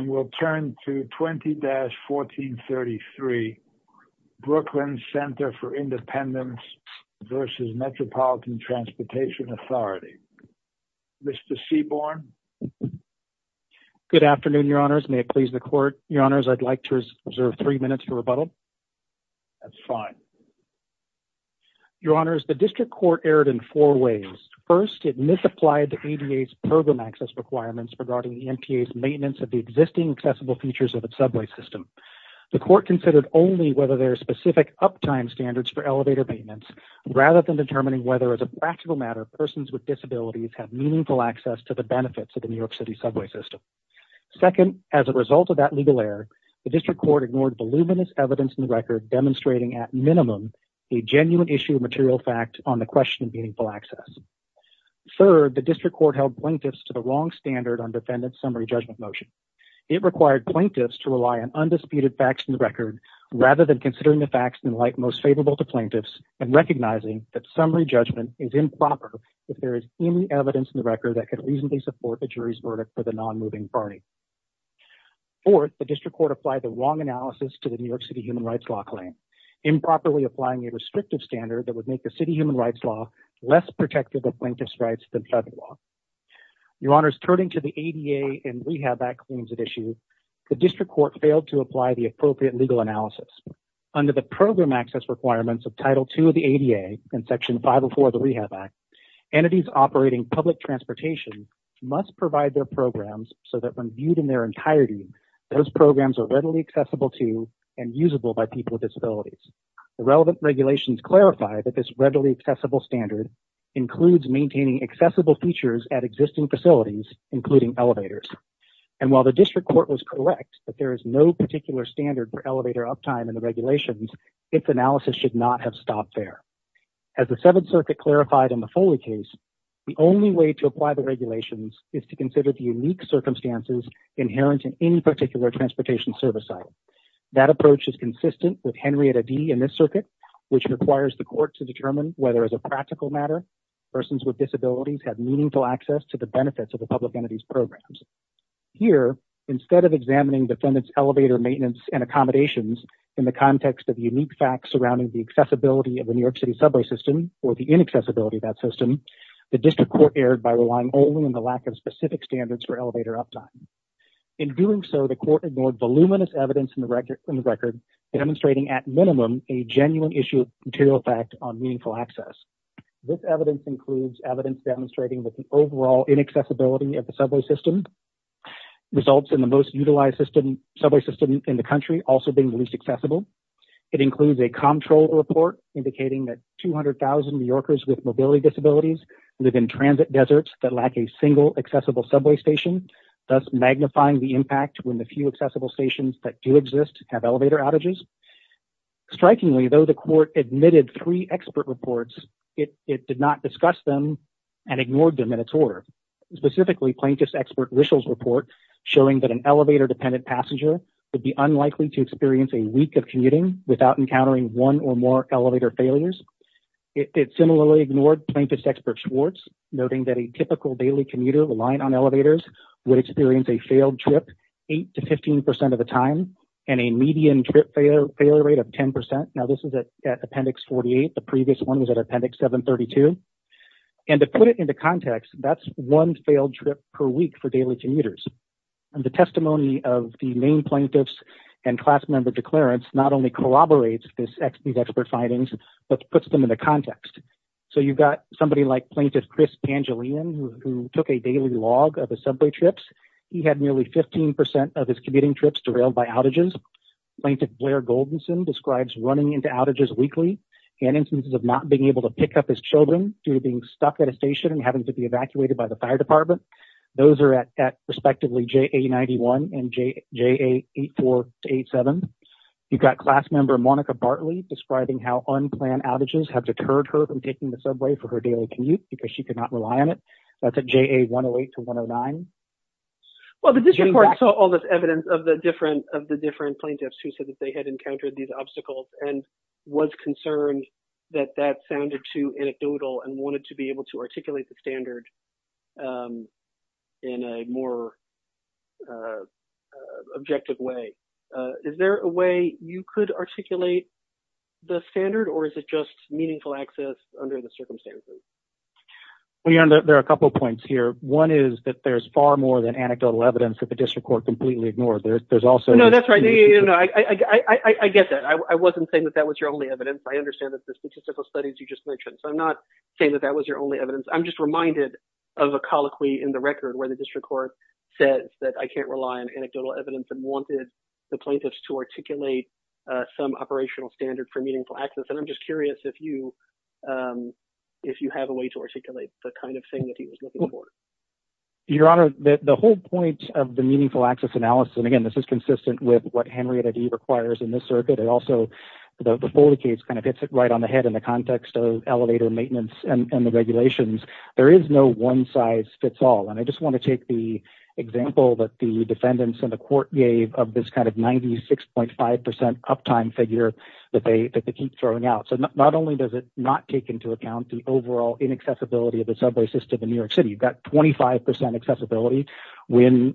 and we'll turn to 20-1433, Brooklyn Center for Independence versus Metropolitan Transportation Authority. Mr. Seaborn. Good afternoon, your honors. May it please the court. Your honors, I'd like to reserve three minutes for rebuttal. That's fine. Your honors, the district court erred in four ways. First, it misapplied the ADA's program access requirements regarding the MTA's maintenance of the existing accessible features of the subway system. The court considered only whether there are specific uptime standards for elevator maintenance, rather than determining whether as a practical matter, persons with disabilities have meaningful access to the benefits of the New York City subway system. Second, as a result of that legal error, the district court ignored voluminous evidence in the record demonstrating at minimum, a genuine issue of material fact on the question of meaningful access. Third, the district court held plaintiffs to the wrong standard on defendant's summary judgment motion. It required plaintiffs to rely on undisputed facts in the record, rather than considering the facts in light most favorable to plaintiffs and recognizing that summary judgment is improper if there is any evidence in the record that could reasonably support the jury's verdict for the non-moving party. Fourth, the district court applied the wrong analysis to the New York City human rights law claim, improperly applying a restrictive standard that would make the city human rights law less protective of plaintiff's rights than federal law. Your honors, turning to the ADA and Rehab Act claims at issue, the district court failed to apply the appropriate legal analysis. Under the program access requirements of Title II of the ADA and Section 504 of the Rehab Act, entities operating public transportation must provide their programs so that when viewed in their entirety, those programs are readily accessible to and usable by people with disabilities. The relevant regulations clarify that this readily accessible standard includes maintaining accessible features at existing facilities, including elevators. And while the district court was correct that there is no particular standard for elevator uptime in the regulations, its analysis should not have stopped there. As the Seventh Circuit clarified in the Foley case, the only way to apply the regulations is to consider the unique circumstances inherent in any particular transportation service site. That approach is consistent with Henrietta Dee in this circuit, which requires the court to determine whether as a practical matter, persons with disabilities have meaningful access to the benefits of the public entities programs. Here, instead of examining the defendant's elevator maintenance and accommodations in the context of unique facts surrounding the accessibility of the New York City subway system or the inaccessibility of that system, the district court erred by relying only on the lack of specific standards for elevator uptime. In doing so, the court ignored voluminous evidence in the record, demonstrating at minimum a genuine issue of material fact on meaningful access. This evidence includes evidence demonstrating that the overall inaccessibility of the subway system results in the most utilized subway system in the country also being the least accessible. It includes a comptroller report indicating that 200,000 New Yorkers with mobility disabilities live in transit deserts that lack a single accessible subway station, thus magnifying the impact when the few accessible stations that do exist have elevator outages. Strikingly, though the court admitted three expert reports, it did not discuss them and ignored them in its order, specifically plaintiff's expert Rishel's report showing that an elevator dependent passenger would be unlikely to experience a week of commuting without encountering one or more elevator failures. It similarly ignored plaintiff's expert Schwartz, noting that a typical daily commuter relying on elevators would experience a failed trip eight to 15% of the time and a median trip failure rate of 10%. Now this is at appendix 48, the previous one was at appendix 732. And to put it into context, that's one failed trip per week for daily commuters. And the testimony of the main plaintiffs and class member declarants, not only corroborates these expert findings, but puts them in the context. So you've got somebody like plaintiff, Chris Angeline, who took a daily log of his subway trips. He had nearly 15% of his commuting trips derailed by outages. Plaintiff Blair Goldenson describes running into outages weekly and instances of not being able to pick up his children due to being stuck at a station and having to be evacuated by the fire department. Those are at respectively JA91 and JA84 to 87. You've got class member Monica Bartley describing how unplanned outages have deterred her from taking the subway for her daily commute because she could not rely on it. That's at JA108 to 109. Well, the district court saw all this evidence of the different plaintiffs who said that they had encountered these obstacles and was concerned that that sounded too anecdotal and wanted to be able to articulate the standard in a more objective way. Is there a way you could articulate the standard or is it just meaningful access under the circumstances? Well, there are a couple of points here. One is that there's far more than anecdotal evidence that the district court completely ignored. There's also- No, that's right. I get that. I wasn't saying that that was your only evidence. I understand that the statistical studies you just mentioned. So I'm not saying that that was your only evidence. I'm just reminded of a colloquy in the record where the district court says that I can't rely on anecdotal evidence and wanted the plaintiffs to articulate some operational standard for meaningful access. And I'm just curious if you have a way to articulate the kind of thing that he was looking for. Your Honor, the whole point of the meaningful access analysis and again, this is consistent with what Henrietta Dee requires in this circuit. It also, the Foley case kind of hits it right on the head in the context of elevator maintenance and the regulations. There is no one size fits all. And I just want to take the example that the defendants and the court gave of this kind of 96.5% uptime figure that they keep throwing out. So not only does it not take into account the overall inaccessibility of the subway system in New York City, you've got 25% accessibility when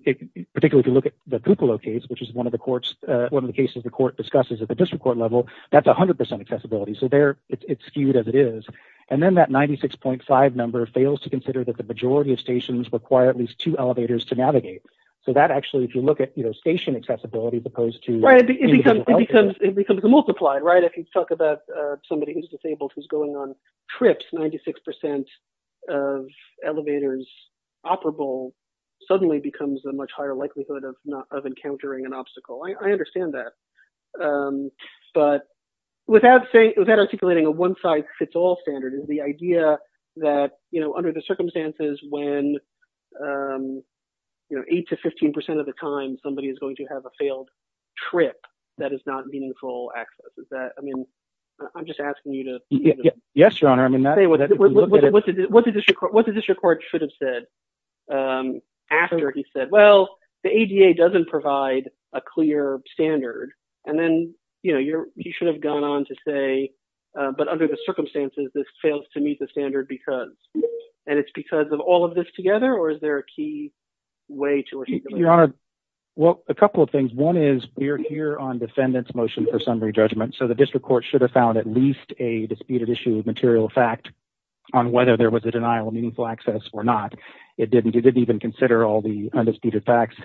particularly if you look at the Kupalo case, which is one of the courts, one of the cases the court discusses at the district court level, that's 100% accessibility. So there it's skewed as it is. And then that 96.5 number fails to consider that the majority of stations require at least two elevators to navigate. So that actually, if you look at station accessibility proposed to- Right, it becomes multiplied, right? If you talk about somebody who's disabled, who's going on trips, 96% of elevators operable suddenly becomes a much higher likelihood of encountering an obstacle. I understand that. But without articulating a one size fits all standard is the idea that, you know, under the circumstances when, you know, eight to 15% of the time somebody is going to have a failed trip that is not meaningful access. Is that, I mean, I'm just asking you to- Yes, your honor. I mean, that- What did the district court should have said after he said, well, the ADA doesn't provide a clear standard. And then, you know, you should have gone on to say, but under the circumstances, this fails to meet the standard because, and it's because of all of this together or is there a key way to- Your honor, well, a couple of things. One is we're here on defendant's motion for summary judgment. So the district court should have found at least a disputed issue of material fact on whether there was a denial of meaningful access or not. It didn't, he didn't even consider all the undisputed facts.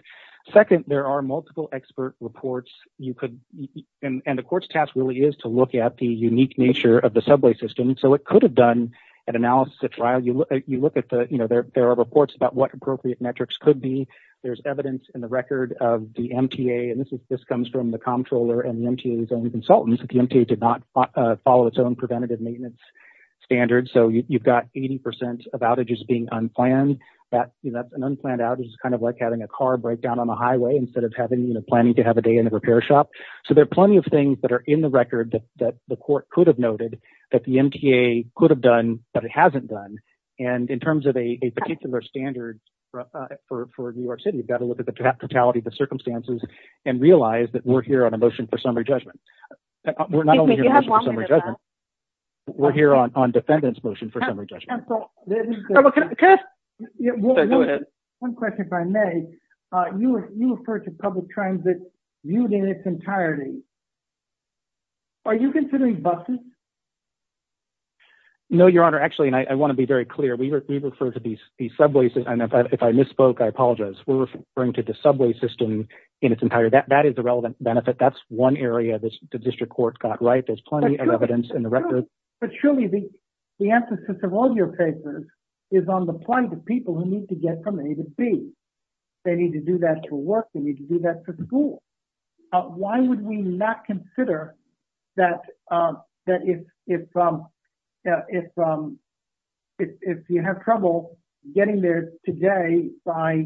Second, there are multiple expert reports. You could, and the court's task really is to look at the unique nature of the subway system. So it could have done an analysis at trial. You look at the, you know, there are reports about what appropriate metrics could be. There's evidence in the record of the MTA. And this is, this comes from the comptroller and the MTA's own consultants. The MTA did not follow its own preventative maintenance standards. So you've got 80% of outages being unplanned. That's an unplanned outage is kind of like having a car break down on the highway instead of having, you know, planning to have a day in the repair shop. So there are plenty of things that are in the record that the court could have noted that the MTA could have done, but it hasn't done. And in terms of a particular standard for New York City, you've got to look at the totality of the circumstances and realize that we're here on a motion for summary judgment. We're not only here on a motion for summary judgment, we're here on defendant's motion for summary judgment. One question if I may, you referred to public transit viewed in its entirety. Are you considering buses? No, your honor. Actually, and I want to be very clear. We refer to these subways, and if I misspoke, I apologize. We're referring to the subway system in its entirety. That is the relevant benefit. That's one area that the district court got right. There's plenty of evidence in the record. But surely the emphasis of all your papers is on the point of people who need to get from A to B. They need to do that for work. They need to do that for school. Why would we not consider that if you have trouble getting there today by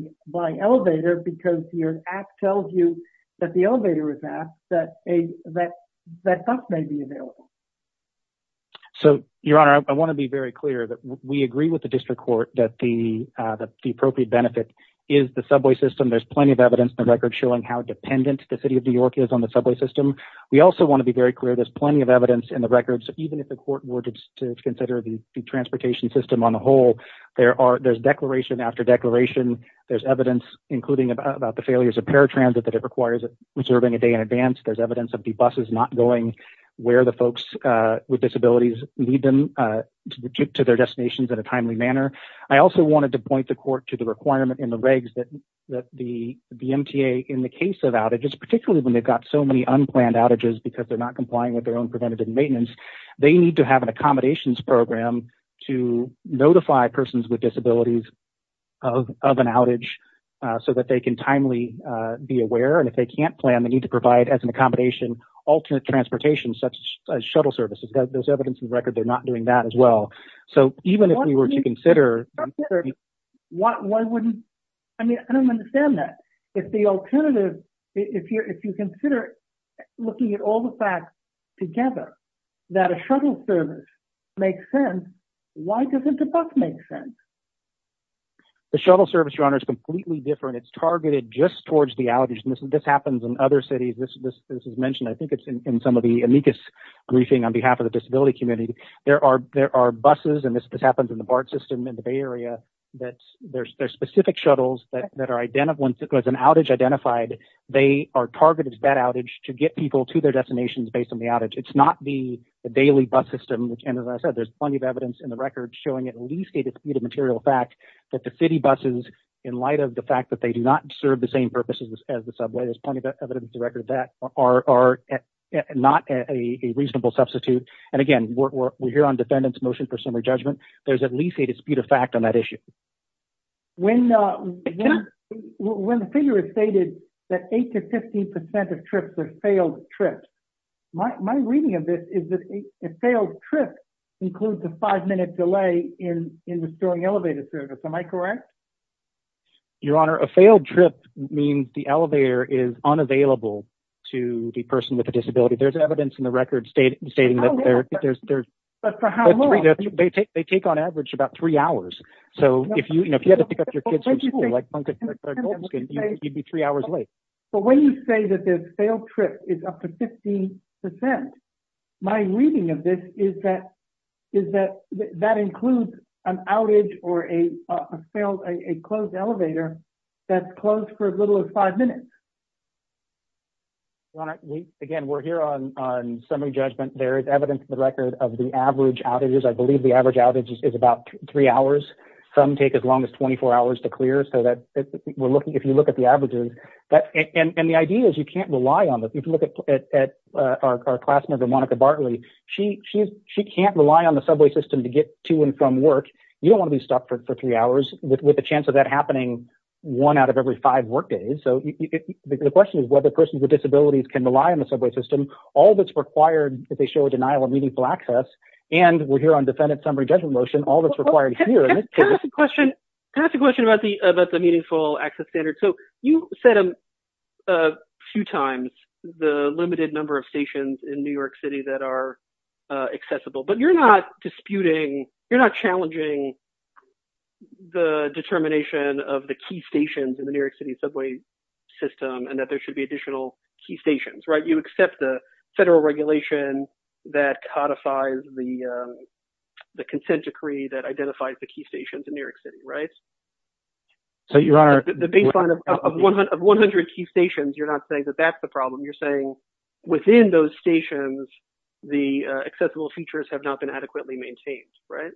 elevator because your app tells you that the elevator is at, that that bus may be available? So, your honor, I want to be very clear that we agree with the district court that the appropriate benefit is the subway system. There's plenty of evidence in the record showing how dependent the city of New York is on the subway system. We also want to be very clear, there's plenty of evidence in the records, even if the court were to consider the transportation system on the whole, there's declaration after declaration. There's evidence, including about the failures of paratransit that it requires reserving a day in advance. There's evidence of the buses not going where the folks with disabilities lead them to their destinations in a timely manner. I also wanted to point the court to the requirement in the regs that the MTA in the case of outages, particularly when they've got so many unplanned outages because they're not complying with their own preventative maintenance, they need to have an accommodations program to notify persons with disabilities of an outage so that they can timely be aware. And if they can't plan, they need to provide as an accommodation, alternate transportation, such as shuttle services. There's evidence in the record they're not doing that as well. So, even if we were to consider- I mean, I don't understand that. If the alternative, if you consider looking at all the facts together, that a shuttle service makes sense, why doesn't a bus make sense? The shuttle service, Your Honor, is completely different. It's targeted just towards the outage. And this happens in other cities. This is mentioned, I think, it's in some of the amicus briefing on behalf of the disability community. There are buses, and this happens in the BART system in the Bay Area, that there's specific shuttles that are, once an outage identified, they are targeted at that outage to get people to their destinations based on the outage. It's not the daily bus system, which, as I said, there's plenty of evidence in the record showing at least a disputed material fact that the city buses, in light of the fact that they do not serve the same purposes as the subway, there's plenty of evidence to record that, are not a reasonable substitute. And again, we're here on defendant's motion for summary judgment. There's at least a disputed fact on that issue. When the figure is stated that 8% to 15% of trips are failed trips, my reading of this is that a failed trip includes a five minute delay in restoring elevator service, am I correct? Your Honor, a failed trip means the elevator is unavailable to the person with a disability. There's evidence in the record stating that there's- But for how long? They take on average about three hours. So if you had to pick up your kids from school, like Duncan or Goldenskin, you'd be three hours late. But when you say that the failed trip is up to 15%, my reading of this is that that includes an outage or a closed elevator that's closed for as little as five minutes. Your Honor, again, we're here on summary judgment. There is evidence in the record of the average outages. I believe the average outage is about three hours. Some take as long as 24 hours to clear, so that if you look at the averages, and the idea is you can't rely on this. If you look at our class member, Monica Bartley, she can't rely on the subway system to get to and from work. You don't want to be stuck for three hours with the chance of that happening one out of every five work days. So the question is whether persons with disabilities can rely on the subway system. All that's required if they show a denial of meaningful access, and we're here on defendant summary judgment motion, all that's required here. Can I ask a question about the meaningful access standard? So you said a few times the limited number of stations in New York City that are accessible, but you're not disputing, you're not challenging the determination of the key stations in the New York City subway system and that there should be additional key stations, right? You accept the federal regulation that codifies the consent decree that identifies the key stations in New York City, right? So Your Honor- The baseline of 100 key stations, you're not saying that that's the problem. You're saying within those stations, the accessible features have not been adequately maintained, right?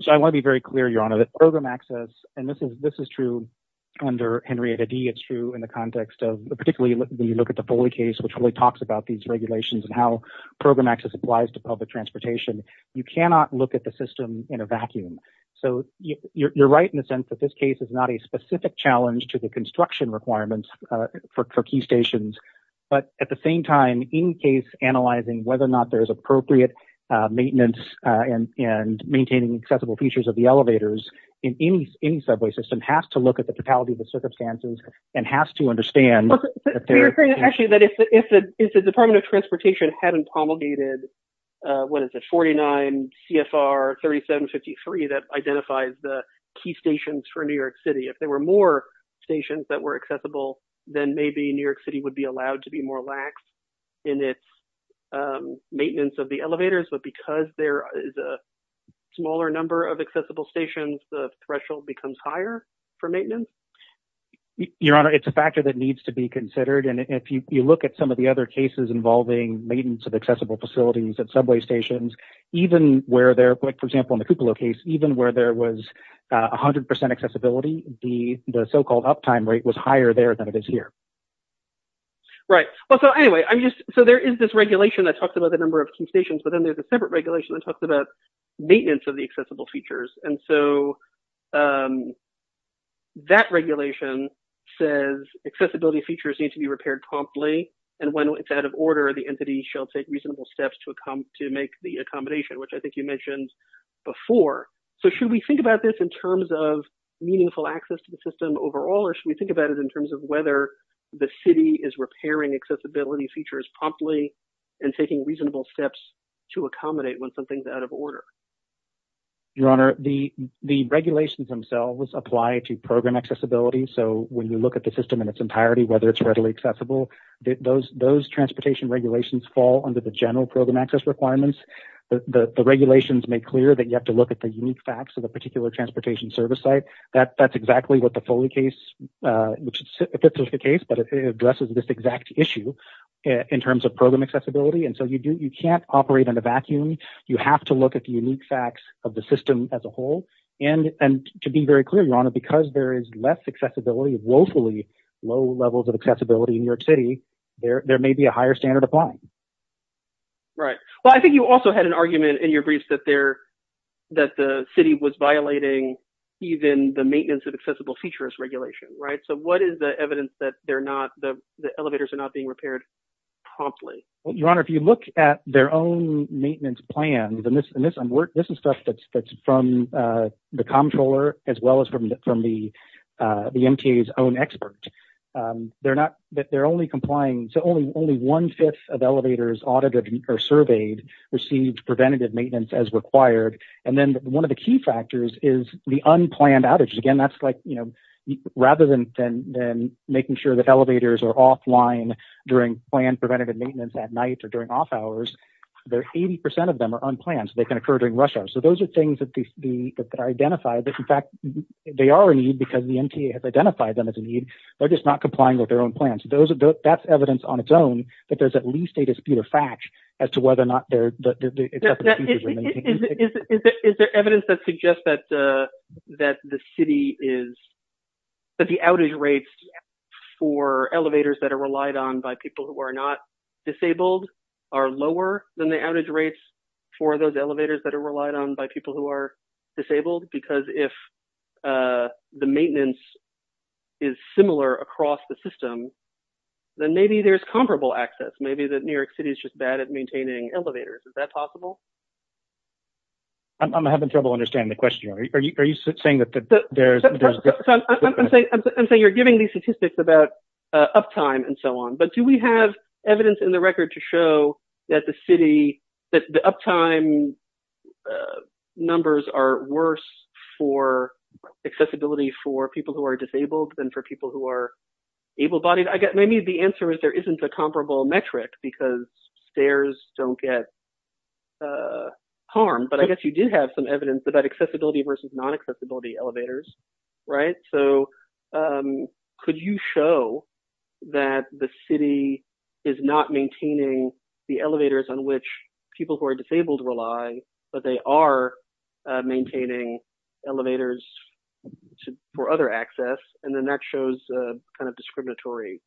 So I want to be very clear, Your Honor, that program access, and this is true under Henrietta Dee, it's true in the context of, particularly when you look at the Foley case, which really talks about these regulations and how program access applies to public transportation, you cannot look at the system in a vacuum. So you're right in the sense that this case is not a specific challenge to the construction requirements for key stations, but at the same time, in case analyzing whether or not there's appropriate maintenance and maintaining accessible features of the elevators in any subway system has to look at the totality of the circumstances and has to understand- Actually, that if the Department of Transportation hadn't promulgated, what is it, 49 CFR 3753 that identifies the key stations for New York City, if there were more stations that were accessible, then maybe New York City would be allowed to be more lax in its maintenance of the elevators, but because there is a smaller number of accessible stations the threshold becomes higher for maintenance? Your Honor, it's a factor that needs to be considered and if you look at some of the other cases involving maintenance of accessible facilities at subway stations, even where they're, like, for example, in the Cupola case, even where there was 100% accessibility, the so-called uptime rate was higher there than it is here. Right, well, so anyway, I'm just, so there is this regulation that talks about the number of key stations, but then there's a separate regulation that talks about maintenance of the accessible features and so that regulation says accessibility features need to be repaired promptly and when it's out of order, the entity shall take reasonable steps to make the accommodation, which I think you mentioned before. So should we think about this in terms of meaningful access to the system overall or should we think about it in terms of whether the city is repairing accessibility features promptly and taking reasonable steps to accommodate when something's out of order? Your Honor, the regulations themselves apply to program accessibility, so when you look at the system in its entirety, whether it's readily accessible, those transportation regulations fall under the general program access requirements. The regulations make clear that you have to look at the unique facts of a particular transportation service site. That's exactly what the Foley case, which fits with the case, but it addresses this exact issue in terms of program accessibility and so you can't operate in a vacuum. You have to look at the unique facts of the system as a whole and to be very clear, Your Honor, because there is less accessibility, woefully low levels of accessibility in New York City, there may be a higher standard of fine. Right, well, I think you also had an argument in your briefs that the city was violating even the maintenance of accessible features regulation, right, so what is the evidence that they're not, the elevators are not being repaired promptly? Well, Your Honor, if you look at their own maintenance plan, and this is stuff that's from the Comptroller as well as from the MTA's own expert, they're not, they're only complying, so only one-fifth of elevators audited or surveyed received preventative maintenance as required and then one of the key factors is the unplanned outages. Again, that's like, rather than making sure that elevators are offline during planned preventative maintenance at night or during off hours, 80% of them are unplanned, so they can occur during rush hour, so those are things that are identified that in fact, they are a need because the MTA has identified them as a need, they're just not complying with their own plans. That's evidence on its own that there's at least a dispute or fact as to whether or not it's up to the city to maintain it. Is there evidence that suggests that the city is, that the outage rates for elevators that are relied on by people who are not disabled are lower than the outage rates for those elevators that are relied on by people who are disabled because if the maintenance is similar across the system, then maybe there's comparable access, maybe that New York City is just bad at maintaining elevators, is that possible? I'm having trouble understanding the question. Are you saying that there's- I'm saying you're giving me statistics about uptime and so on, but do we have evidence in the record to show that the city, that the uptime numbers are worse for accessibility for people who are disabled than for people who are able-bodied? I guess maybe the answer is there isn't a comparable metric because stairs don't get harmed, but I guess you did have some evidence about accessibility versus non-accessibility elevators, right, so could you show that the city is not maintaining the elevators on which people who are disabled rely, but they are maintaining elevators for other access and then that shows a kind of discriminatory-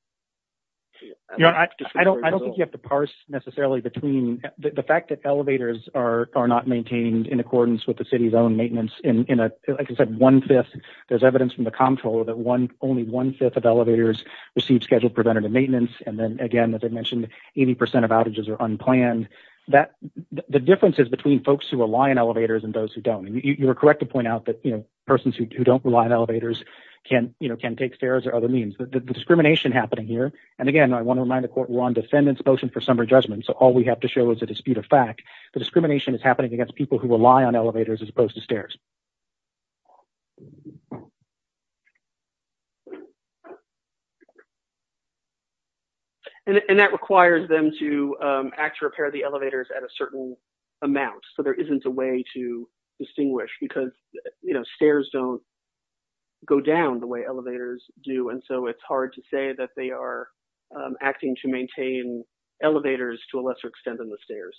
Yeah, I don't think you have to parse necessarily between the fact that elevators are not maintained in accordance with the city's own maintenance in a, like I said, one-fifth, there's evidence from the comptroller that only one-fifth of elevators receive scheduled preventative maintenance and then again, as I mentioned, 80% of outages are unplanned. The difference is between folks who rely on elevators and those who don't. You were correct to point out that, you know, persons who don't rely on elevators can take stairs or other means. The discrimination happening here, and again, I want to remind the court we're on defendant's motion for summary judgment, so all we have to show is a dispute of fact. The discrimination is happening against people who rely on elevators as opposed to stairs. And that requires them to act to repair the elevators at a certain amount, so there isn't a way to distinguish because, you know, stairs don't go down the way elevators do, and so it's hard to say that they are acting to maintain elevators to a lesser extent than the stairs.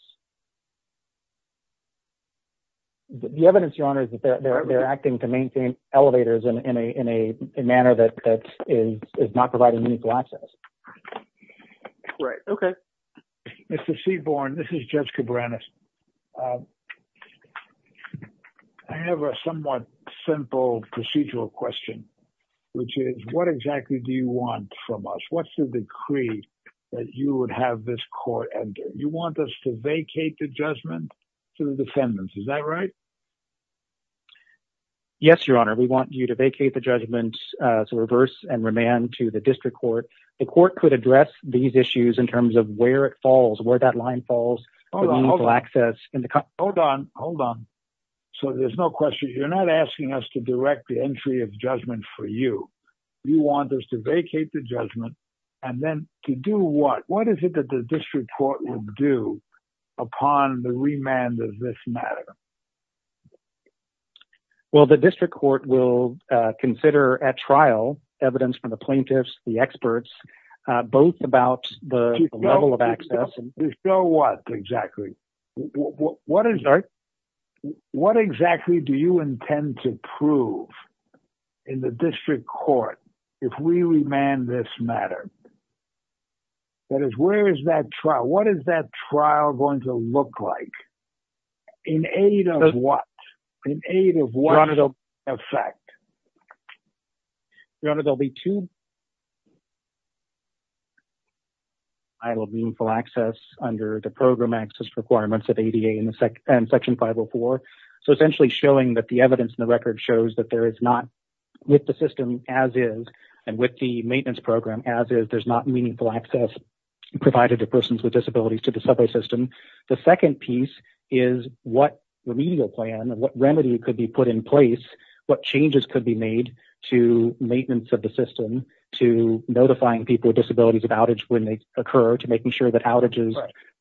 The evidence, Your Honor, is that they're acting to maintain elevators in a manner that is not providing legal access. Right, okay. Mr. Seaborne, this is Judge Cabranes. I have a somewhat simple procedural question, which is what exactly do you want from us? What's the decree that you would have this court enter? You want us to vacate the judgment to the defendants, is that right? Yes, Your Honor, we want you to vacate the judgment to reverse and remand to the district court. The court could address these issues in terms of where it falls, where that line falls for legal access. Hold on, hold on. So there's no question, you're not asking us to direct the entry of judgment for you. You want us to vacate the judgment, and then to do what? What is it that the district court will do Well, the district court will consider at trial evidence from the plaintiffs, the experts, both about the level of access. To show what exactly? What exactly do you intend to prove in the district court if we remand this matter? That is, where is that trial? What is that trial going to look like? In aid of what? In aid of what effect? Your Honor, there'll be two I will mean full access under the program access requirements of ADA and section 504. So essentially showing that the evidence in the record shows that there is not with the system as is, and with the maintenance program as is, there's not meaningful access provided to persons with disabilities to the subway system. The second piece is what remedial plan and what remedy could be put in place, what changes could be made to maintenance of the system, to notifying people with disabilities of outage when they occur, to making sure that outages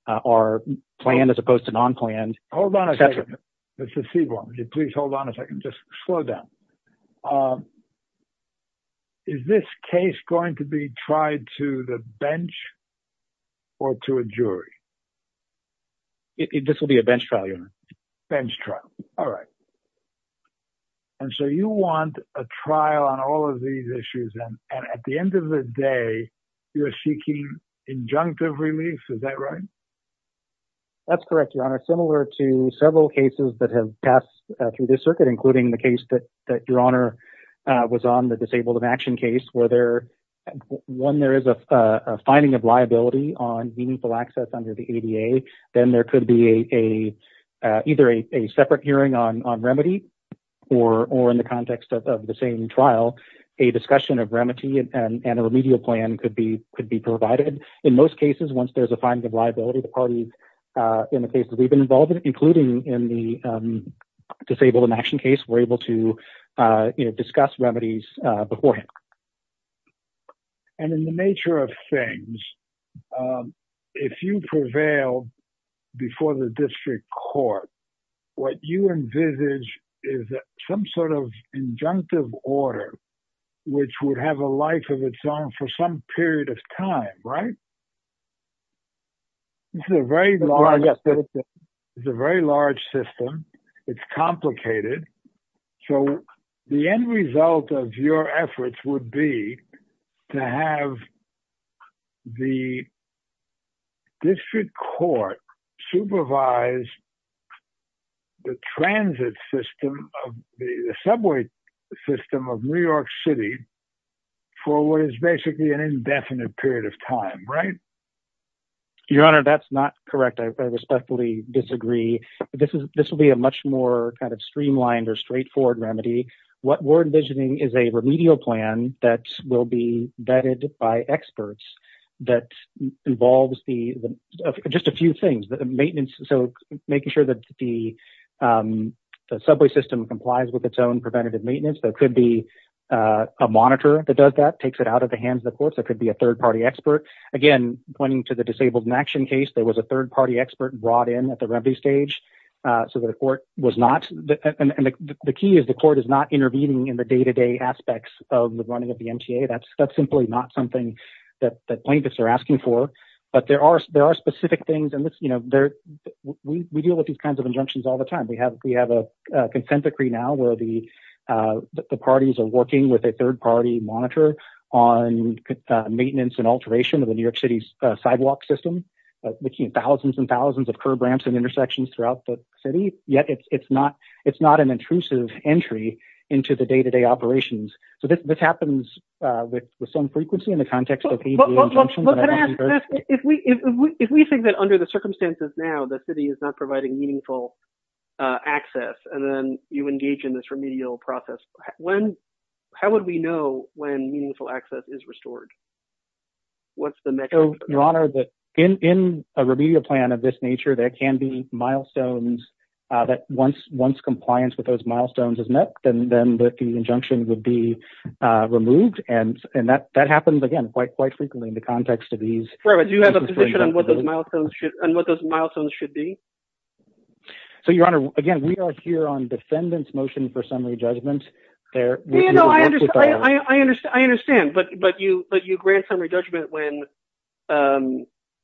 are planned as opposed to non-planned. Hold on a second, Mr. Seaborn. Please hold on a second, just slow down. Is this case going to be tried to the bench or to a jury? This will be a bench trial, Your Honor. Bench trial, all right. And so you want a trial on all of these issues. And at the end of the day, you're seeking injunctive relief, is that right? That's correct, Your Honor. Similar to several cases that have passed through this circuit, including the case that Your Honor was on, the disabled of action case, where there, one, there is a finding of liability on meaningful access under the ADA. Then there could be either a separate hearing on remedy or in the context of the same trial, a discussion of remedy and a remedial plan could be provided. In most cases, once there's a finding of liability, the parties in the cases we've been involved in, including in the disabled in action case, were able to discuss remedies beforehand. And in the nature of things, if you prevail before the district court, what you envisage is that some sort of injunctive order, which would have a life of its own for some period of time, right? This is a very large system. It's a very large system. It's complicated. So the end result of your efforts would be to have the district court supervise the transit system of the subway system of New York City for what is basically an indefinite period of time, right? Your Honor, that's not correct. I respectfully disagree. This will be a much more kind of streamlined or straightforward remedy. What we're envisioning is a remedial plan that will be vetted by experts that involves just a few things. So making sure that the subway system complies with its own preventative maintenance. There could be a monitor that does that, takes it out of the hands of the courts. It could be a third-party expert. Again, pointing to the disabled in action case, there was a third-party expert brought in at the remedy stage. So the court was not, and the key is the court is not intervening in the day-to-day aspects of the running of the MTA. That's simply not something that plaintiffs are asking for, but there are specific things. And we deal with these kinds of injunctions all the time. We have a consent decree now where the parties are working with a third-party monitor on maintenance and alteration of the New York City's sidewalk system, looking at thousands and thousands of curb ramps and intersections throughout the city. Yet it's not an intrusive entry into the day-to-day operations. So this happens with some frequency in the context of the injunctions. But can I ask, if we think that under the circumstances now the city is not providing meaningful access and then you engage in this remedial process, how would we know when meaningful access is restored? What's the mechanism? Your Honor, in a remedial plan of this nature, there can be milestones that once compliance with those milestones is met, then the injunction would be removed. And that happens, again, quite frequently in the context of these- Right, but do you have a position on what those milestones should be? So, Your Honor, again, we are here on defendant's motion for summary judgment. I understand, but you grant summary judgment when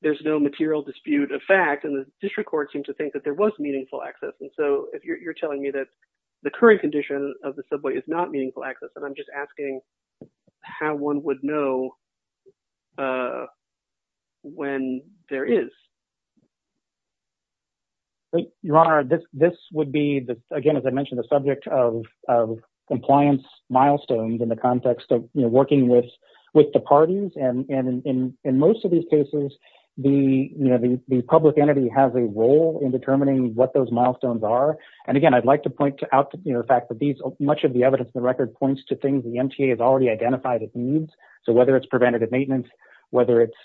there's no material dispute of fact, and the district court seemed to think that there was meaningful access. And so you're telling me that the current condition of the subway is not meaningful access, and I'm just asking how one would know when there is. Your Honor, this would be, again, as I mentioned, the subject of compliance milestones in the context of working with the parties. And in most of these cases, the public entity has a role in determining what those milestones are. And again, I'd like to point out the fact that much of the evidence in the record points to things the MTA has already identified as needs. So whether it's preventative maintenance, whether it's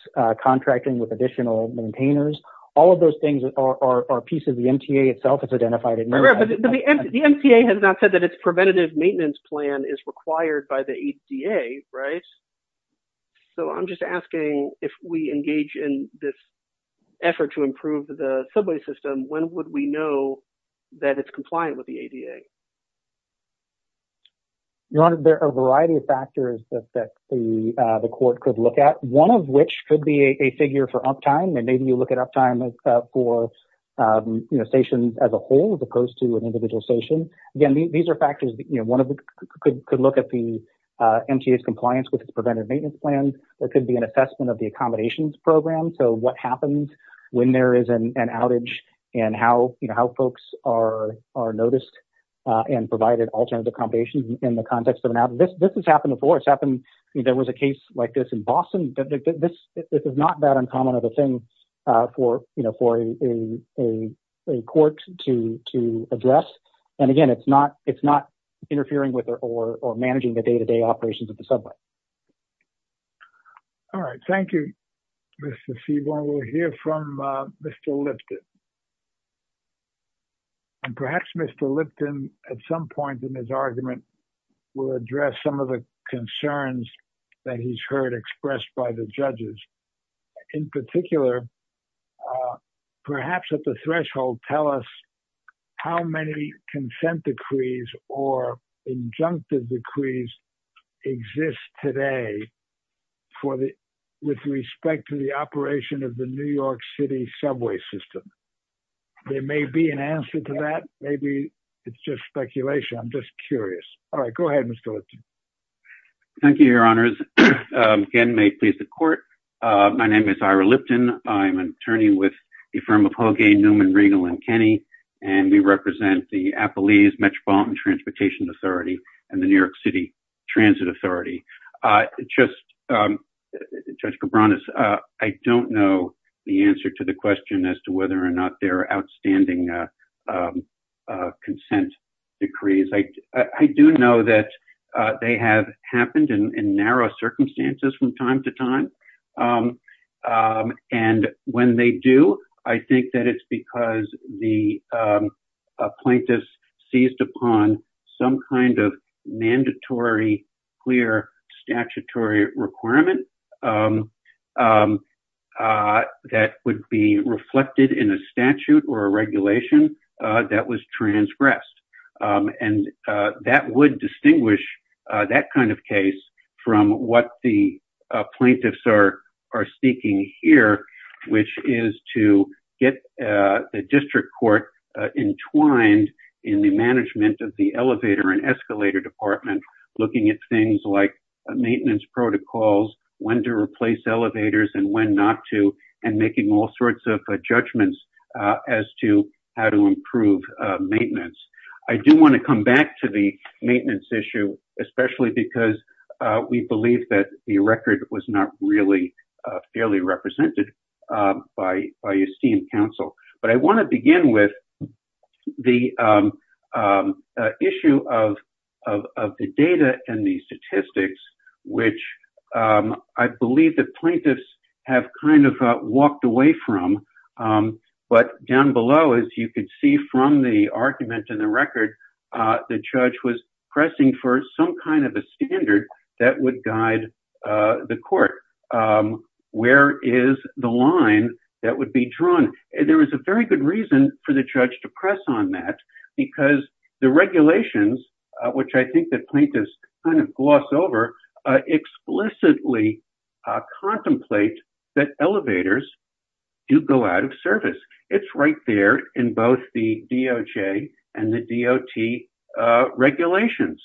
contracting with additional maintainers, all of those things are pieces the MTA itself has identified as needs. The MTA has not said that its preventative maintenance plan is required by the ADA, right? So I'm just asking if we engage in this effort when would we know that it's compliant with the ADA? Your Honor, there are a variety of factors that the court could look at, one of which could be a figure for uptime. And maybe you look at uptime for stations as a whole as opposed to an individual station. Again, these are factors that one could look at the MTA's compliance with its preventative maintenance plan. There could be an assessment of the accommodations program. So what happens when there is an outage and how folks are noticed and provided alternative accommodations in the context of an outage. This has happened before. It's happened, there was a case like this in Boston. This is not that uncommon of a thing for a court to address. And again, it's not interfering with or managing the day-to-day operations of the subway. All right, thank you, Mr. Seaborn. We'll hear from Mr. Lipton. And perhaps Mr. Lipton, at some point in his argument, will address some of the concerns that he's heard expressed by the judges. In particular, perhaps at the threshold, tell us how many consent decrees or injunctive decrees exist today with respect to the operation of the New York City subway system. There may be an answer to that. Maybe it's just speculation. I'm just curious. All right, go ahead, Mr. Lipton. Thank you, your honors. Again, may it please the court. My name is Ira Lipton. I'm an attorney with the firm of Holgain, Newman, Riegel, and Kenney. And we represent the Appalachian Metropolitan Transportation Authority and the New York City Transit Authority. Just, Judge Cabranes, I don't know the answer to the question as to whether or not there are outstanding consent decrees. I do know that they have happened in narrow circumstances from time to time. And when they do, I think that it's because the plaintiffs seized upon some kind of mandatory, clear statutory requirement that would be reflected in a statute or a regulation that was transgressed. And that would distinguish that kind of case from what the plaintiffs are seeking here, which is to get the district court entwined in the management of the elevator or an escalator department, looking at things like maintenance protocols, when to replace elevators and when not to, and making all sorts of judgments as to how to improve maintenance. I do want to come back to the maintenance issue, especially because we believe that the record was not really fairly represented by esteemed counsel. But I want to begin with the issue of the data and the statistics, which I believe the plaintiffs have kind of walked away from. But down below, as you could see from the argument in the record, the judge was pressing for some kind of a standard that would guide the court. Where is the line that would be drawn? And there was a very good reason for the judge to press on that, because the regulations, which I think the plaintiffs kind of gloss over, explicitly contemplate that elevators do go out of service. It's right there in both the DOJ and the DOT regulations.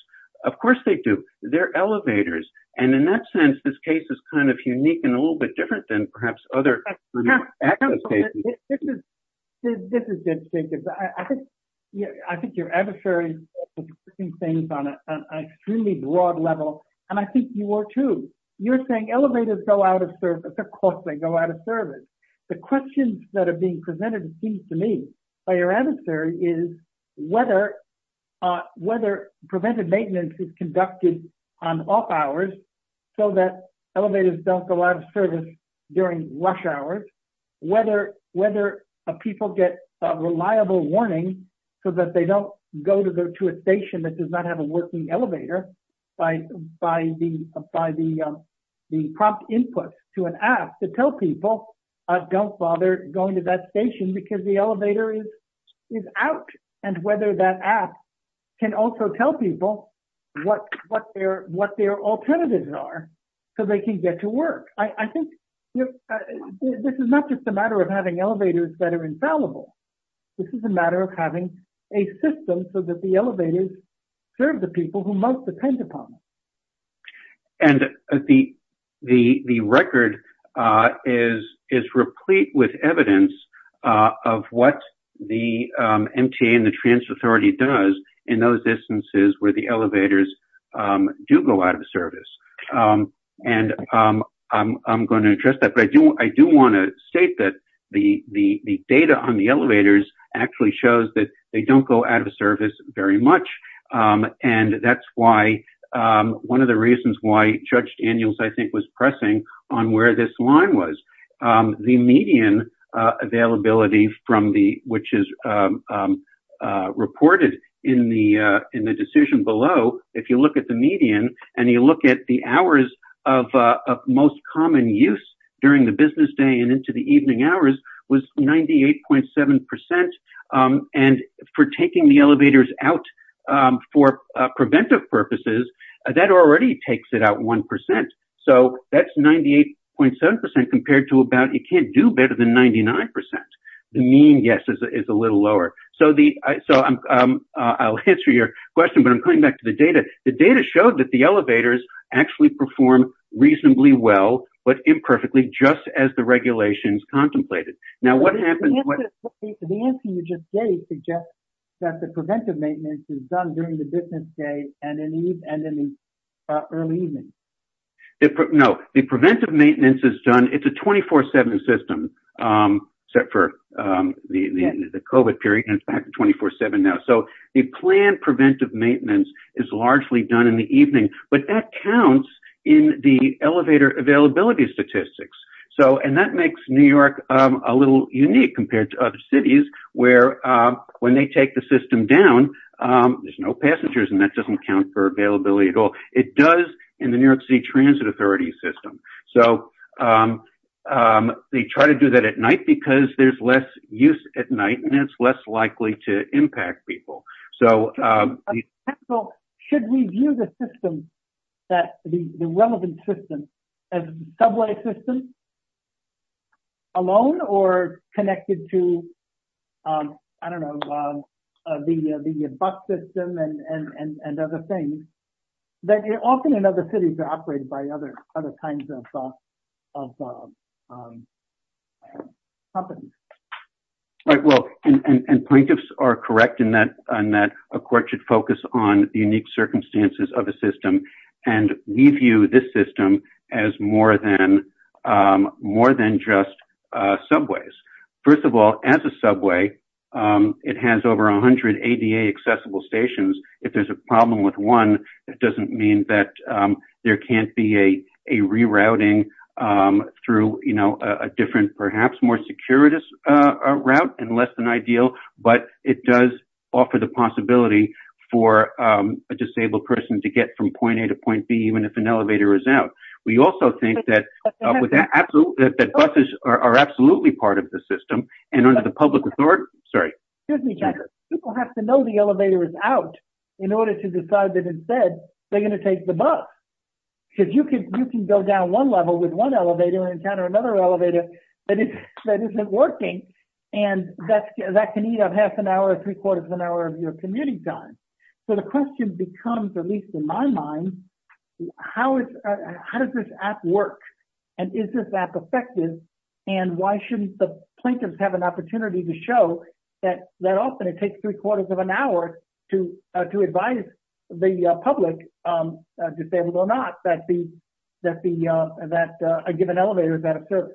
Of course they do. They're elevators. And in that sense, this case is kind of unique and a little bit different than perhaps other kind of access cases. This is interesting, because I think your adversary is putting things on an extremely broad level, and I think you are too. You're saying elevators go out of service. Of course they go out of service. The questions that are being presented, it seems to me, by your adversary is whether preventive maintenance is conducted on off hours so that elevators don't go out of service during rush hours, whether people get a reliable warning so that they don't go to a station that does not have a working elevator by the prompt input to an app to tell people, don't bother going to that station because the elevator is out, and whether that app can also tell people what their alternatives are so they can get to work. I think this is not just a matter of having elevators that are infallible. This is a matter of having a system so that the elevators serve the people who must depend upon them. And the record is replete with evidence of what the MTA and the transfer authority does in those instances where the elevators do go out of service. And I'm going to address that, but I do want to state that the data on the elevators actually shows that they don't go out of service very much. And that's why, one of the reasons why Judge Daniels, I think, was pressing on where this line was. The median availability from the, which is reported in the decision below, if you look at the median and you look at the hours of most common use during the business day and into the evening hours was 98.7%, and for taking the elevators out for preventive purposes, that already takes it out 1%. So that's 98.7% compared to about, you can't do better than 99%. The mean, yes, is a little lower. So I'll answer your question, but I'm coming back to the data. The data showed that the elevators actually perform reasonably well, but imperfectly, just as the regulations contemplated. Now, what happens- The answer you just gave suggests that the preventive maintenance is done during the business day and in the early evening. No, the preventive maintenance is done, it's a 24-7 system, except for the COVID period, and it's back to 24-7 now. So the planned preventive maintenance is largely done in the evening, but that counts in the elevator availability statistics. So, and that makes New York a little unique compared to other cities, where when they take the system down, there's no passengers, and that doesn't count for availability at all. It does in the New York City Transit Authority system. So they try to do that at night because there's less use at night, and it's less likely to impact people. So- So should we view the system, that the relevant system, as a subway system alone, or connected to, I don't know, the bus system and other things, that often in other cities are operated by other kinds of companies? Right, well, and plaintiffs are correct in that a court should focus on the unique circumstances of a system, and we view this system as more than just subways. First of all, as a subway, it has over 100 ADA-accessible stations. If there's a problem with one, that doesn't mean that there can't be a rerouting through a different, perhaps more securitous route, and less than ideal, but it does offer the possibility for a disabled person to get from point A to point B, even if an elevator is out. We also think that buses are absolutely part of the system, and under the public authority- Sorry. Excuse me, Jack. People have to know the elevator is out in order to decide that instead, they're gonna take the bus. Because you can go down one level with one elevator and encounter another elevator that isn't working, and that can eat up half an hour or three quarters of an hour of your commuting time. So the question becomes, at least in my mind, how does this app work, and is this app effective, and why shouldn't the plaintiffs have an opportunity to show that often it takes three quarters of an hour to advise the public, disabled or not, that a given elevator is out of service?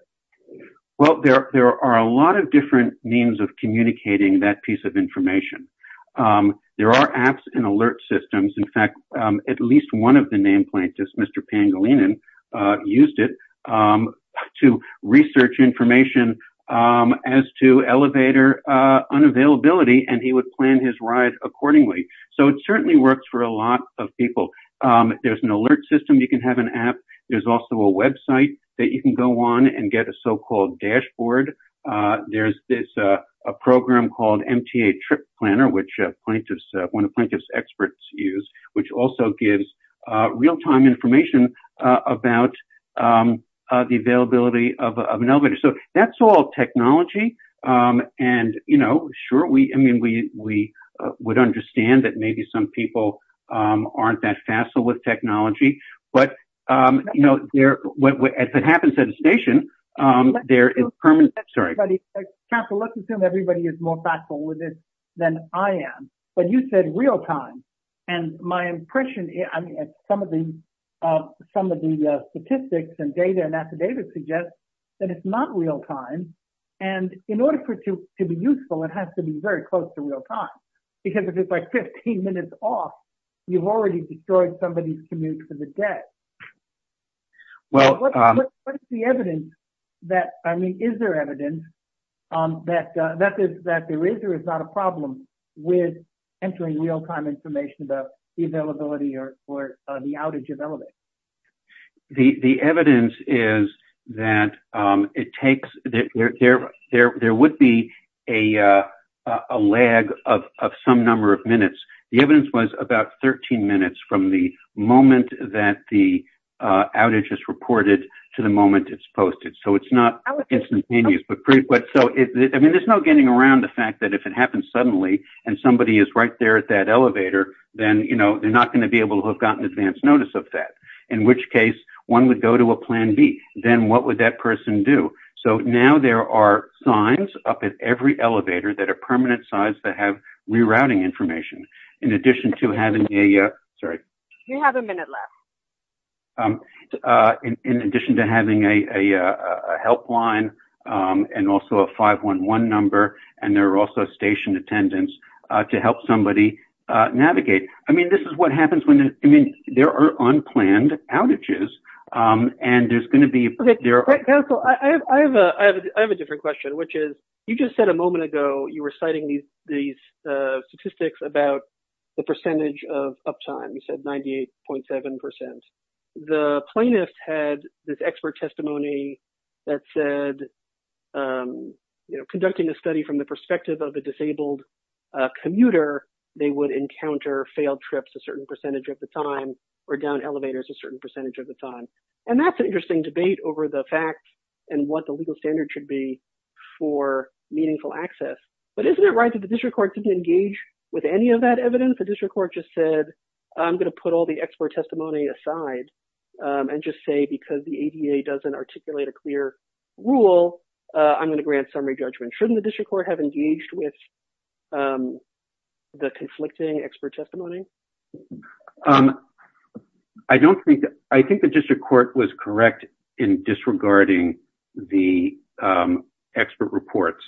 Well, there are a lot of different means of communicating that piece of information. There are apps and alert systems. In fact, at least one of the name plaintiffs, Mr. Pangolinan, used it to research information as to elevator unavailability, and he would plan his ride accordingly. So it certainly works for a lot of people. There's an alert system, you can have an app. There's also a website that you can go on and get a so-called dashboard. There's a program called MTA Trip Planner, which one of plaintiff's experts used, which also gives real-time information about the availability of an elevator. So that's all technology, and sure, I mean, we would understand that maybe some people aren't that facile with technology, but as it happens at a station, there is permanent, sorry. Counselor, let's assume everybody is more facile with this than I am, but you said real-time, and my impression is, I mean, some of the statistics and data and affidavits suggest that it's not real-time, and in order for it to be useful, it has to be very close to real-time, because if it's like 15 minutes off, you've already destroyed somebody's commute for the day. Well, what's the evidence that, I mean, is there evidence that there is or is not a problem with entering real-time information about the availability or the outage of elevators? The evidence is that it takes, there would be a lag of some number of minutes. The evidence was about 13 minutes from the moment that the outage is reported to the moment it's posted. So it's not instantaneous, but so, I mean, there's no getting around the fact that if it happens suddenly and somebody is right there at that elevator, then they're not gonna be able to have gotten advance notice of that, in which case, one would go to a plan B. Then what would that person do? So now there are signs up at every elevator that are permanent signs that have rerouting information, in addition to having a, sorry. You have a minute left. In addition to having a helpline and also a 511 number, and there are also station attendants to help somebody navigate. I mean, this is what happens when, I mean, there are unplanned outages and there's gonna be, there are- Counsel, I have a different question, which is, you just said a moment ago, you were citing these statistics about the percentage of uptimes at 98.7%. The plaintiffs had this expert testimony that said, conducting a study from the perspective of a disabled commuter, they would encounter failed trips a certain percentage of the time, or down elevators a certain percentage of the time. And that's an interesting debate over the fact and what the legal standard should be for meaningful access. But isn't it right that the district court didn't engage with any of that evidence? The district court just said, I'm gonna put all the expert testimony aside and just say, because the ADA doesn't articulate a clear rule, I'm gonna grant summary judgment. Shouldn't the district court have engaged with the conflicting expert testimony? I don't think that, I think the district court was correct in disregarding the expert reports.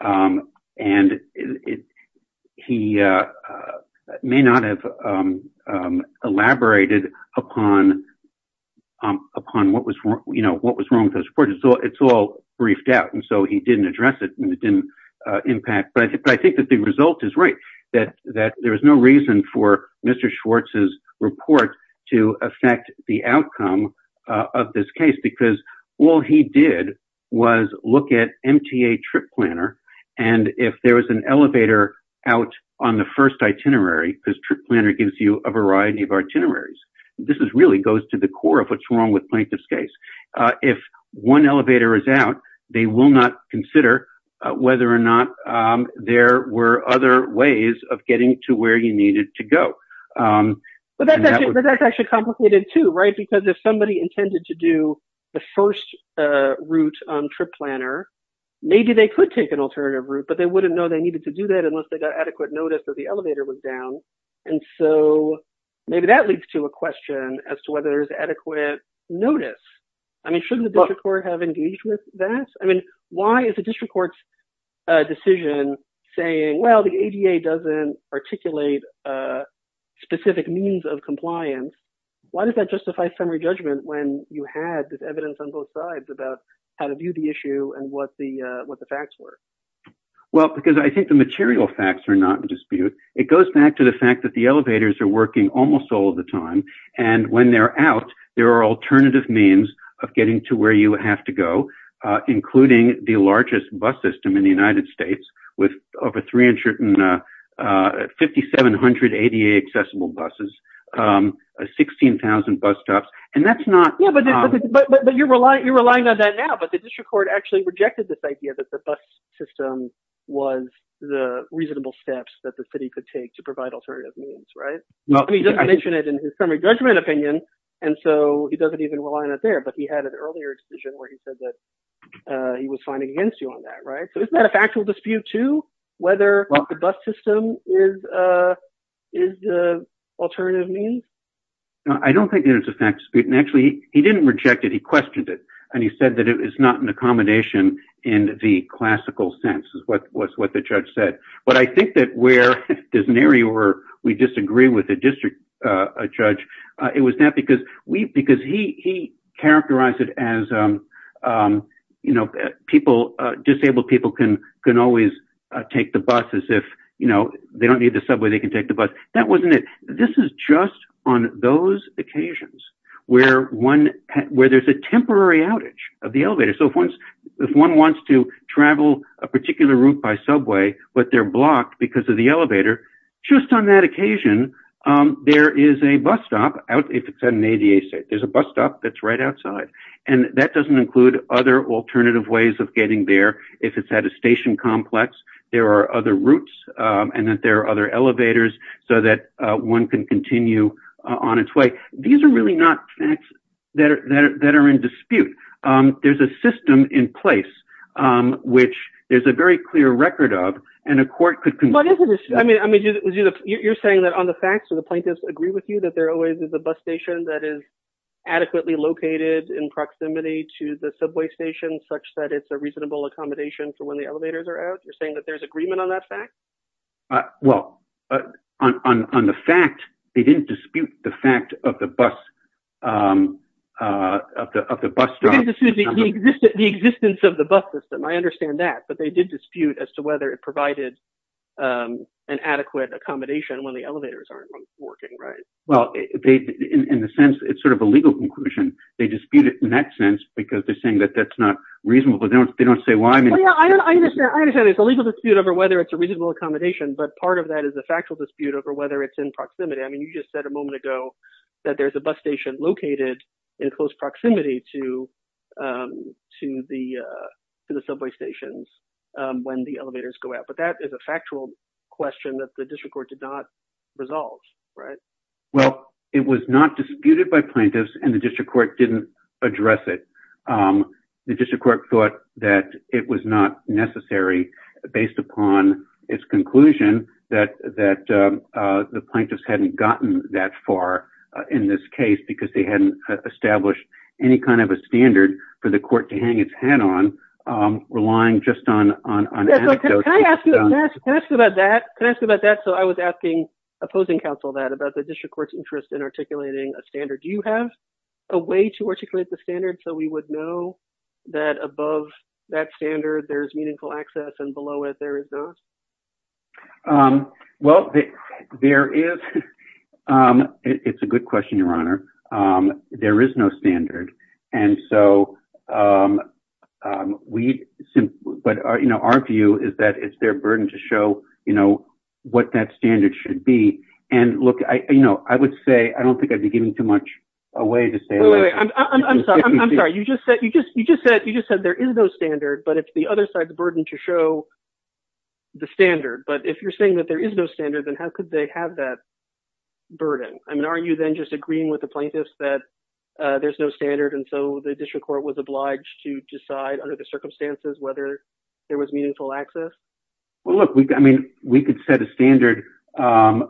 And he may not have elaborated upon what was wrong with those reports. It's all briefed out. And so he didn't address it and it didn't impact. But I think that the result is right that there was no reason for Mr. Schwartz's report to affect the outcome of this case, because all he did was look at MTA Trip Planner. And if there was an elevator out on the first itinerary, because Trip Planner gives you a variety of itineraries. This is really goes to the core of what's wrong with Plaintiff's case. If one elevator is out, they will not consider whether or not there were other ways of getting to where you needed to go. But that's actually complicated too, right? Because if somebody intended to do the first route on Trip Planner, maybe they could take an alternative route, but they wouldn't know they needed to do that unless they got adequate notice that the elevator was down. And so maybe that leads to a question as to whether there's adequate notice. I mean, shouldn't the district court have engaged with that? I mean, why is the district court's decision saying, well, the ADA doesn't articulate specific means of compliance? Why does that justify summary judgment when you had this evidence on both sides about how to view the issue and what the facts were? Well, because I think the material facts are not in dispute. It goes back to the fact that the elevators are working almost all the time. And when they're out, there are alternative means of getting to where you have to go, including the largest bus system in the United States with over 3,500 ADA accessible buses, 16,000 bus stops. And that's not- Yeah, but you're relying on that now, but the district court actually rejected this idea that the bus system was the reasonable steps that the city could take to provide alternative means, right? I mean, he doesn't mention it in his summary judgment opinion. And so he doesn't even rely on it there, but he had an earlier decision where he said that he was fighting against you on that, right? So isn't that a factual dispute too, whether the bus system is the alternative means? I don't think that it's a fact dispute. And actually, he didn't reject it, he questioned it. And he said that it is not an accommodation in the classical sense is what the judge said. But I think that where there's an area where we disagree with the district judge, it was not because he characterized it as disabled people can always take the bus as if they don't need the subway, they can take the bus. That wasn't it. This is just on those occasions where there's a temporary outage of the elevator. So if one wants to travel a particular route by subway, but they're blocked because of the elevator, just on that occasion, there is a bus stop, if it's at an ADA state, there's a bus stop that's right outside. And that doesn't include other alternative ways of getting there. If it's at a station complex, there are other routes and that there are other elevators so that one can continue on its way. These are really not facts that are in dispute. There's a system in place, which there's a very clear record of and a court could conclude. I mean, you're saying that on the facts or the plaintiffs agree with you that there always is a bus station that is adequately located in proximity to the subway station, such that it's a reasonable accommodation for when the elevators are out? You're saying that there's agreement on that fact? Well, on the fact, they didn't dispute the fact of the bus, of the bus stop. They didn't dispute the existence of the bus system. I understand that, but they did dispute as to whether it provided an adequate accommodation when the elevators aren't working, right? Well, in the sense, it's sort of a legal conclusion. They dispute it in that sense because they're saying that that's not reasonable. They don't say why. I understand it's a legal dispute over whether it's a reasonable accommodation, but part of that is a factual dispute over whether it's in proximity. I mean, you just said a moment ago that there's a bus station located in close proximity to the subway stations when the elevators go out, but that is a factual question that the district court did not resolve, right? It was not disputed by plaintiffs and the district court didn't address it. The district court thought that it was not necessary based upon its conclusion that the plaintiffs hadn't gotten that far in this case because they hadn't established any kind of a standard for the court to hang its head on, relying just on anecdotes. Can I ask you about that? So I was asking, opposing counsel that, about the district court's interest in articulating a standard. Do you have a way to articulate the standard so we would know that above that standard there's meaningful access and below it there is not? Well, there is. It's a good question, Your Honor. There is no standard. And so we, but our view is that it's their burden to show what that standard should be. And look, I would say, I don't think I'd be giving too much away to say- Wait, wait, wait. I'm sorry, I'm sorry. You just said there is no standard, but it's the other side's burden to show the standard. But if you're saying that there is no standard, then how could they have that burden? I mean, aren't you then just agreeing with the plaintiffs that there's no standard and so the district court was obliged whether there was meaningful access? Well, look, I mean, we could set a standard but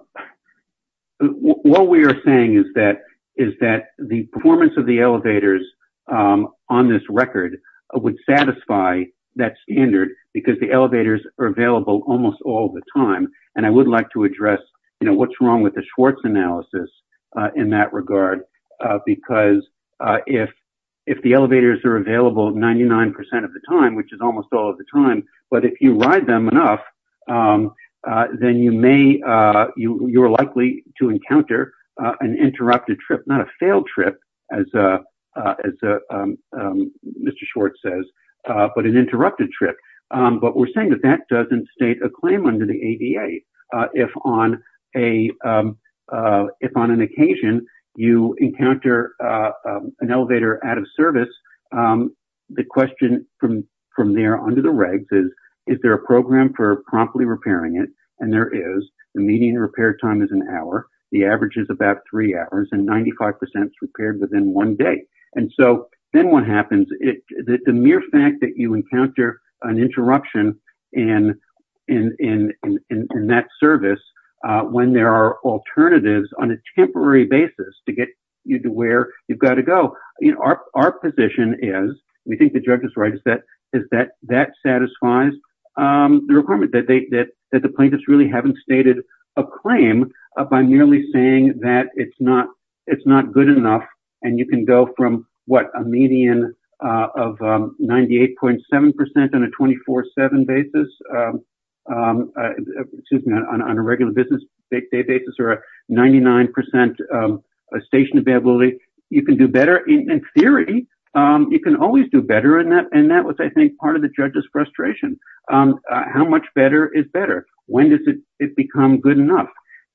what we are saying is that the performance of the elevators on this record would satisfy that standard because the elevators are available almost all the time. And I would like to address what's wrong with the Schwartz analysis in that regard because if the elevators are available 99% of the time, which is almost all of the time, but if you ride them enough, then you're likely to encounter an interrupted trip, not a failed trip, as Mr. Schwartz says, but an interrupted trip. But we're saying that that doesn't state a claim under the ADA. If on an occasion you encounter an elevator out of service, the question from there onto the regs is, is there a program for promptly repairing it? And there is. The median repair time is an hour. The average is about three hours and 95% is repaired within one day. And so then what happens is that the mere fact that you encounter an interruption in that service, when there are alternatives on a temporary basis to get you to where you've got to go, our position is, we think the judge is right, is that that satisfies the requirement that the plaintiffs really haven't stated a claim by merely saying that it's not good enough and you can go from what? A median of 98.7% on a 24-7 basis, excuse me, on a regular business day basis or a 99% station availability. You can do better in theory. You can always do better in that. And that was, I think, part of the judge's frustration. How much better is better? When does it become good enough?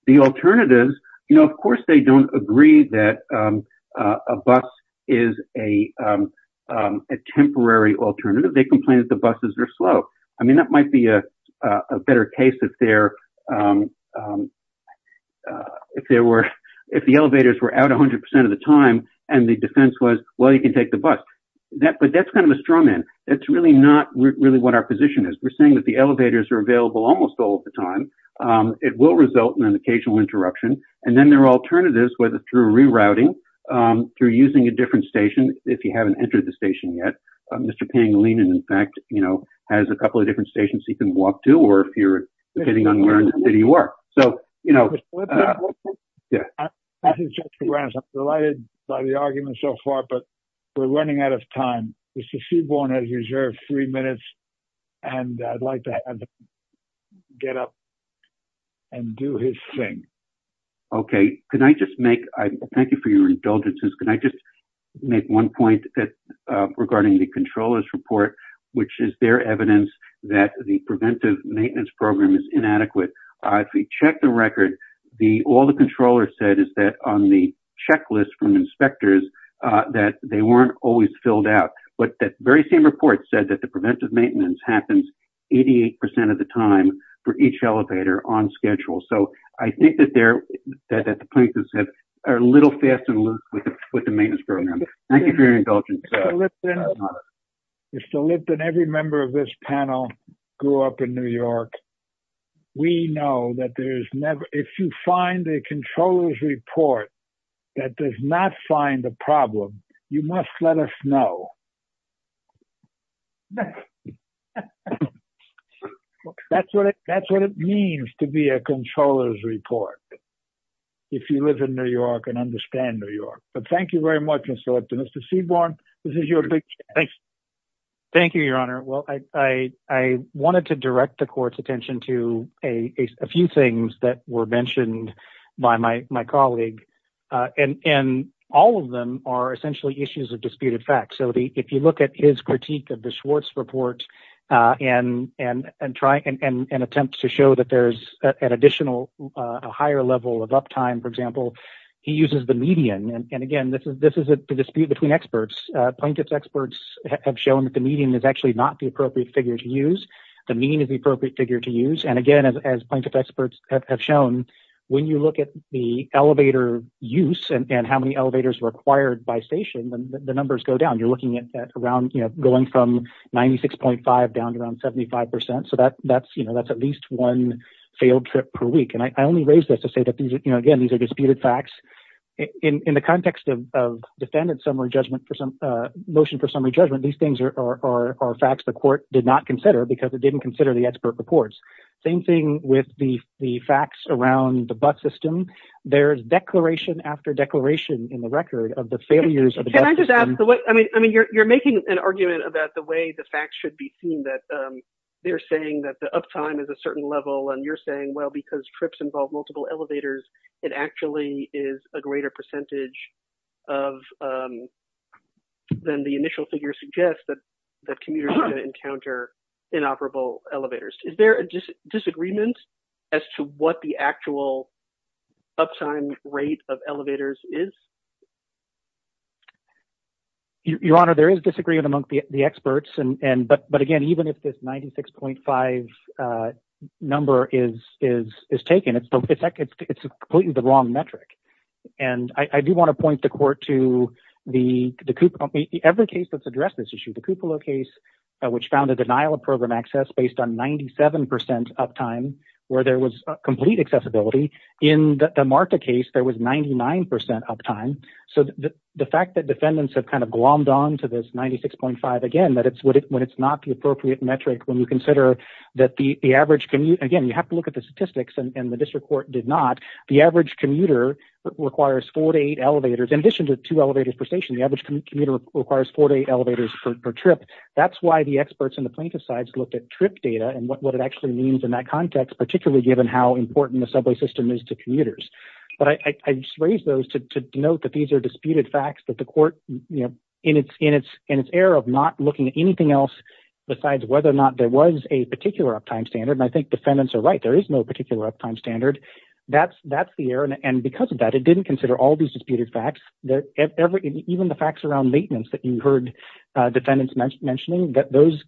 The alternatives, of course they don't agree that a bus is a temporary alternative. They complain that the buses are slow. I mean, that might be a better case if the elevators were out 100% of the time and the defense was, well, you can take the bus. But that's kind of a strong end. That's really not really what our position is. We're saying that the elevators are available almost all of the time. It will result in an occasional interruption. And then there are alternatives, whether through rerouting, through using a different station, if you haven't entered the station yet. Mr. Pangilinan, in fact, has a couple of different stations he can walk to or if you're depending on where in the city you are. So, you know, yeah. I think that's just the grounds. I'm delighted by the argument so far, but we're running out of time. Mr. Seaborn has reserved three minutes and I'd like to have him get up and do his thing. Okay. Can I just make, thank you for your indulgences. Can I just make one point regarding the controller's report, which is their evidence that the preventive maintenance program is inadequate. If we check the record, all the controller said is that on the checklist from inspectors, that they weren't always filled out. But that very same report said that the preventive maintenance happens 88% of the time for each elevator on schedule. So I think that the plaintiffs are a little fast and loose with the maintenance program. Thank you for your indulgence. Mr. Lipton, every member of this panel grew up in New York. We know that there's never, if you find a controller's report that does not find a problem, you must let us know. That's what it means to be a controller's report if you live in New York and understand New York. But thank you very much, Mr. Lipton. Mr. Seaborn, this is your big chance. Thank you, your honor. Well, I wanted to direct the court's attention to a few things that were mentioned by my colleague. And all of them are essentially issues of disputed facts. So if you look at his critique of the Schwartz report and attempts to show that there's an additional, a higher level of uptime, for example, he uses the median. And again, this is a dispute between experts. Plaintiff's experts have shown that the median is actually not the appropriate figure to use. The mean is the appropriate figure to use. And again, as plaintiff's experts have shown, when you look at the elevator use and how many elevators required by station, the numbers go down. You're looking at around, going from 96.5 down to around 75%. So that's at least one failed trip per week. And I only raised this to say that these are, again, these are disputed facts. In the context of defendant's motion for summary judgment, these things are facts the court did not consider because it didn't consider the expert reports. Same thing with the facts around the bus system. There's declaration after declaration in the record of the failures of the bus system. Can I just ask, I mean, you're making an argument about the way the facts should be seen, that they're saying that the uptime is a certain level. And you're saying, well, because trips involve multiple elevators, it actually is a greater percentage of than the initial figure suggests that commuters encounter inoperable elevators. Is there a disagreement as to what the actual uptime rate of elevators is? Your Honor, there is disagreement among the experts. And, but again, even if this 96.5 number is taken, it's completely the wrong metric. And I do want to point the court to the CUPOLA, every case that's addressed this issue, the CUPOLA case, which found a denial of program access based on 97% uptime where there was complete accessibility. In the Marta case, there was 99% uptime. So the fact that defendants have kind of glommed onto this 96.5, again, that it's when it's not the appropriate metric when you consider that the average commute, again, you have to look at the statistics and the district court did not. The average commuter requires four to eight elevators in addition to two elevators per station, the average commuter requires four to eight elevators per trip. That's why the experts and the plaintiff's sides looked at trip data and what it actually means in that context, particularly given how important the subway system is to commuters. But I just raised those to denote that these are disputed facts that the court, in its air of not looking at anything else besides whether or not there was a particular uptime standard and I think defendants are right. There is no particular uptime standard. That's the air and because of that, it didn't consider all these disputed facts. Even the facts around maintenance that you heard defendants mentioning, that those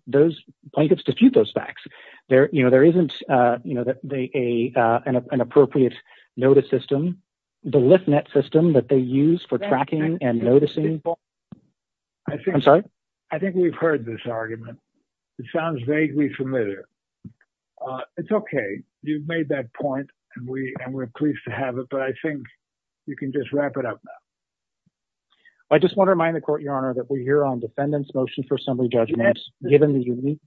plaintiffs dispute those facts. There isn't an appropriate notice system, the list net system that they use for tracking and noticing. I'm sorry. I think we've heard this argument. It sounds vaguely familiar. It's okay. You've made that point and we're pleased to have it, but I think you can just wrap it up now. I just want to remind the court, Your Honor, that we're here on defendant's motion for assembly judgment given the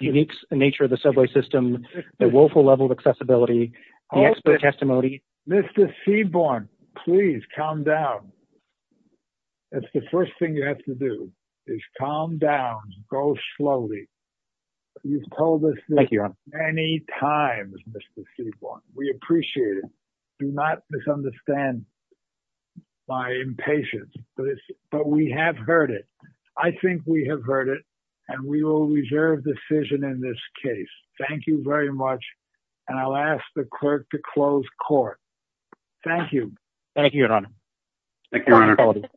unique nature of the subway system, the woeful level of accessibility, the expert testimony. Mr. Seaborn, please calm down. That's the first thing you have to do is calm down. Go slowly. You've told us this many times, Mr. Seaborn. We appreciate it. Do not misunderstand my impatience, but we have heard it. I think we have heard it and we will reserve decision in this case. Thank you very much. And I'll ask the clerk to close court. Thank you. Thank you, Your Honor. Thank you, Your Honor.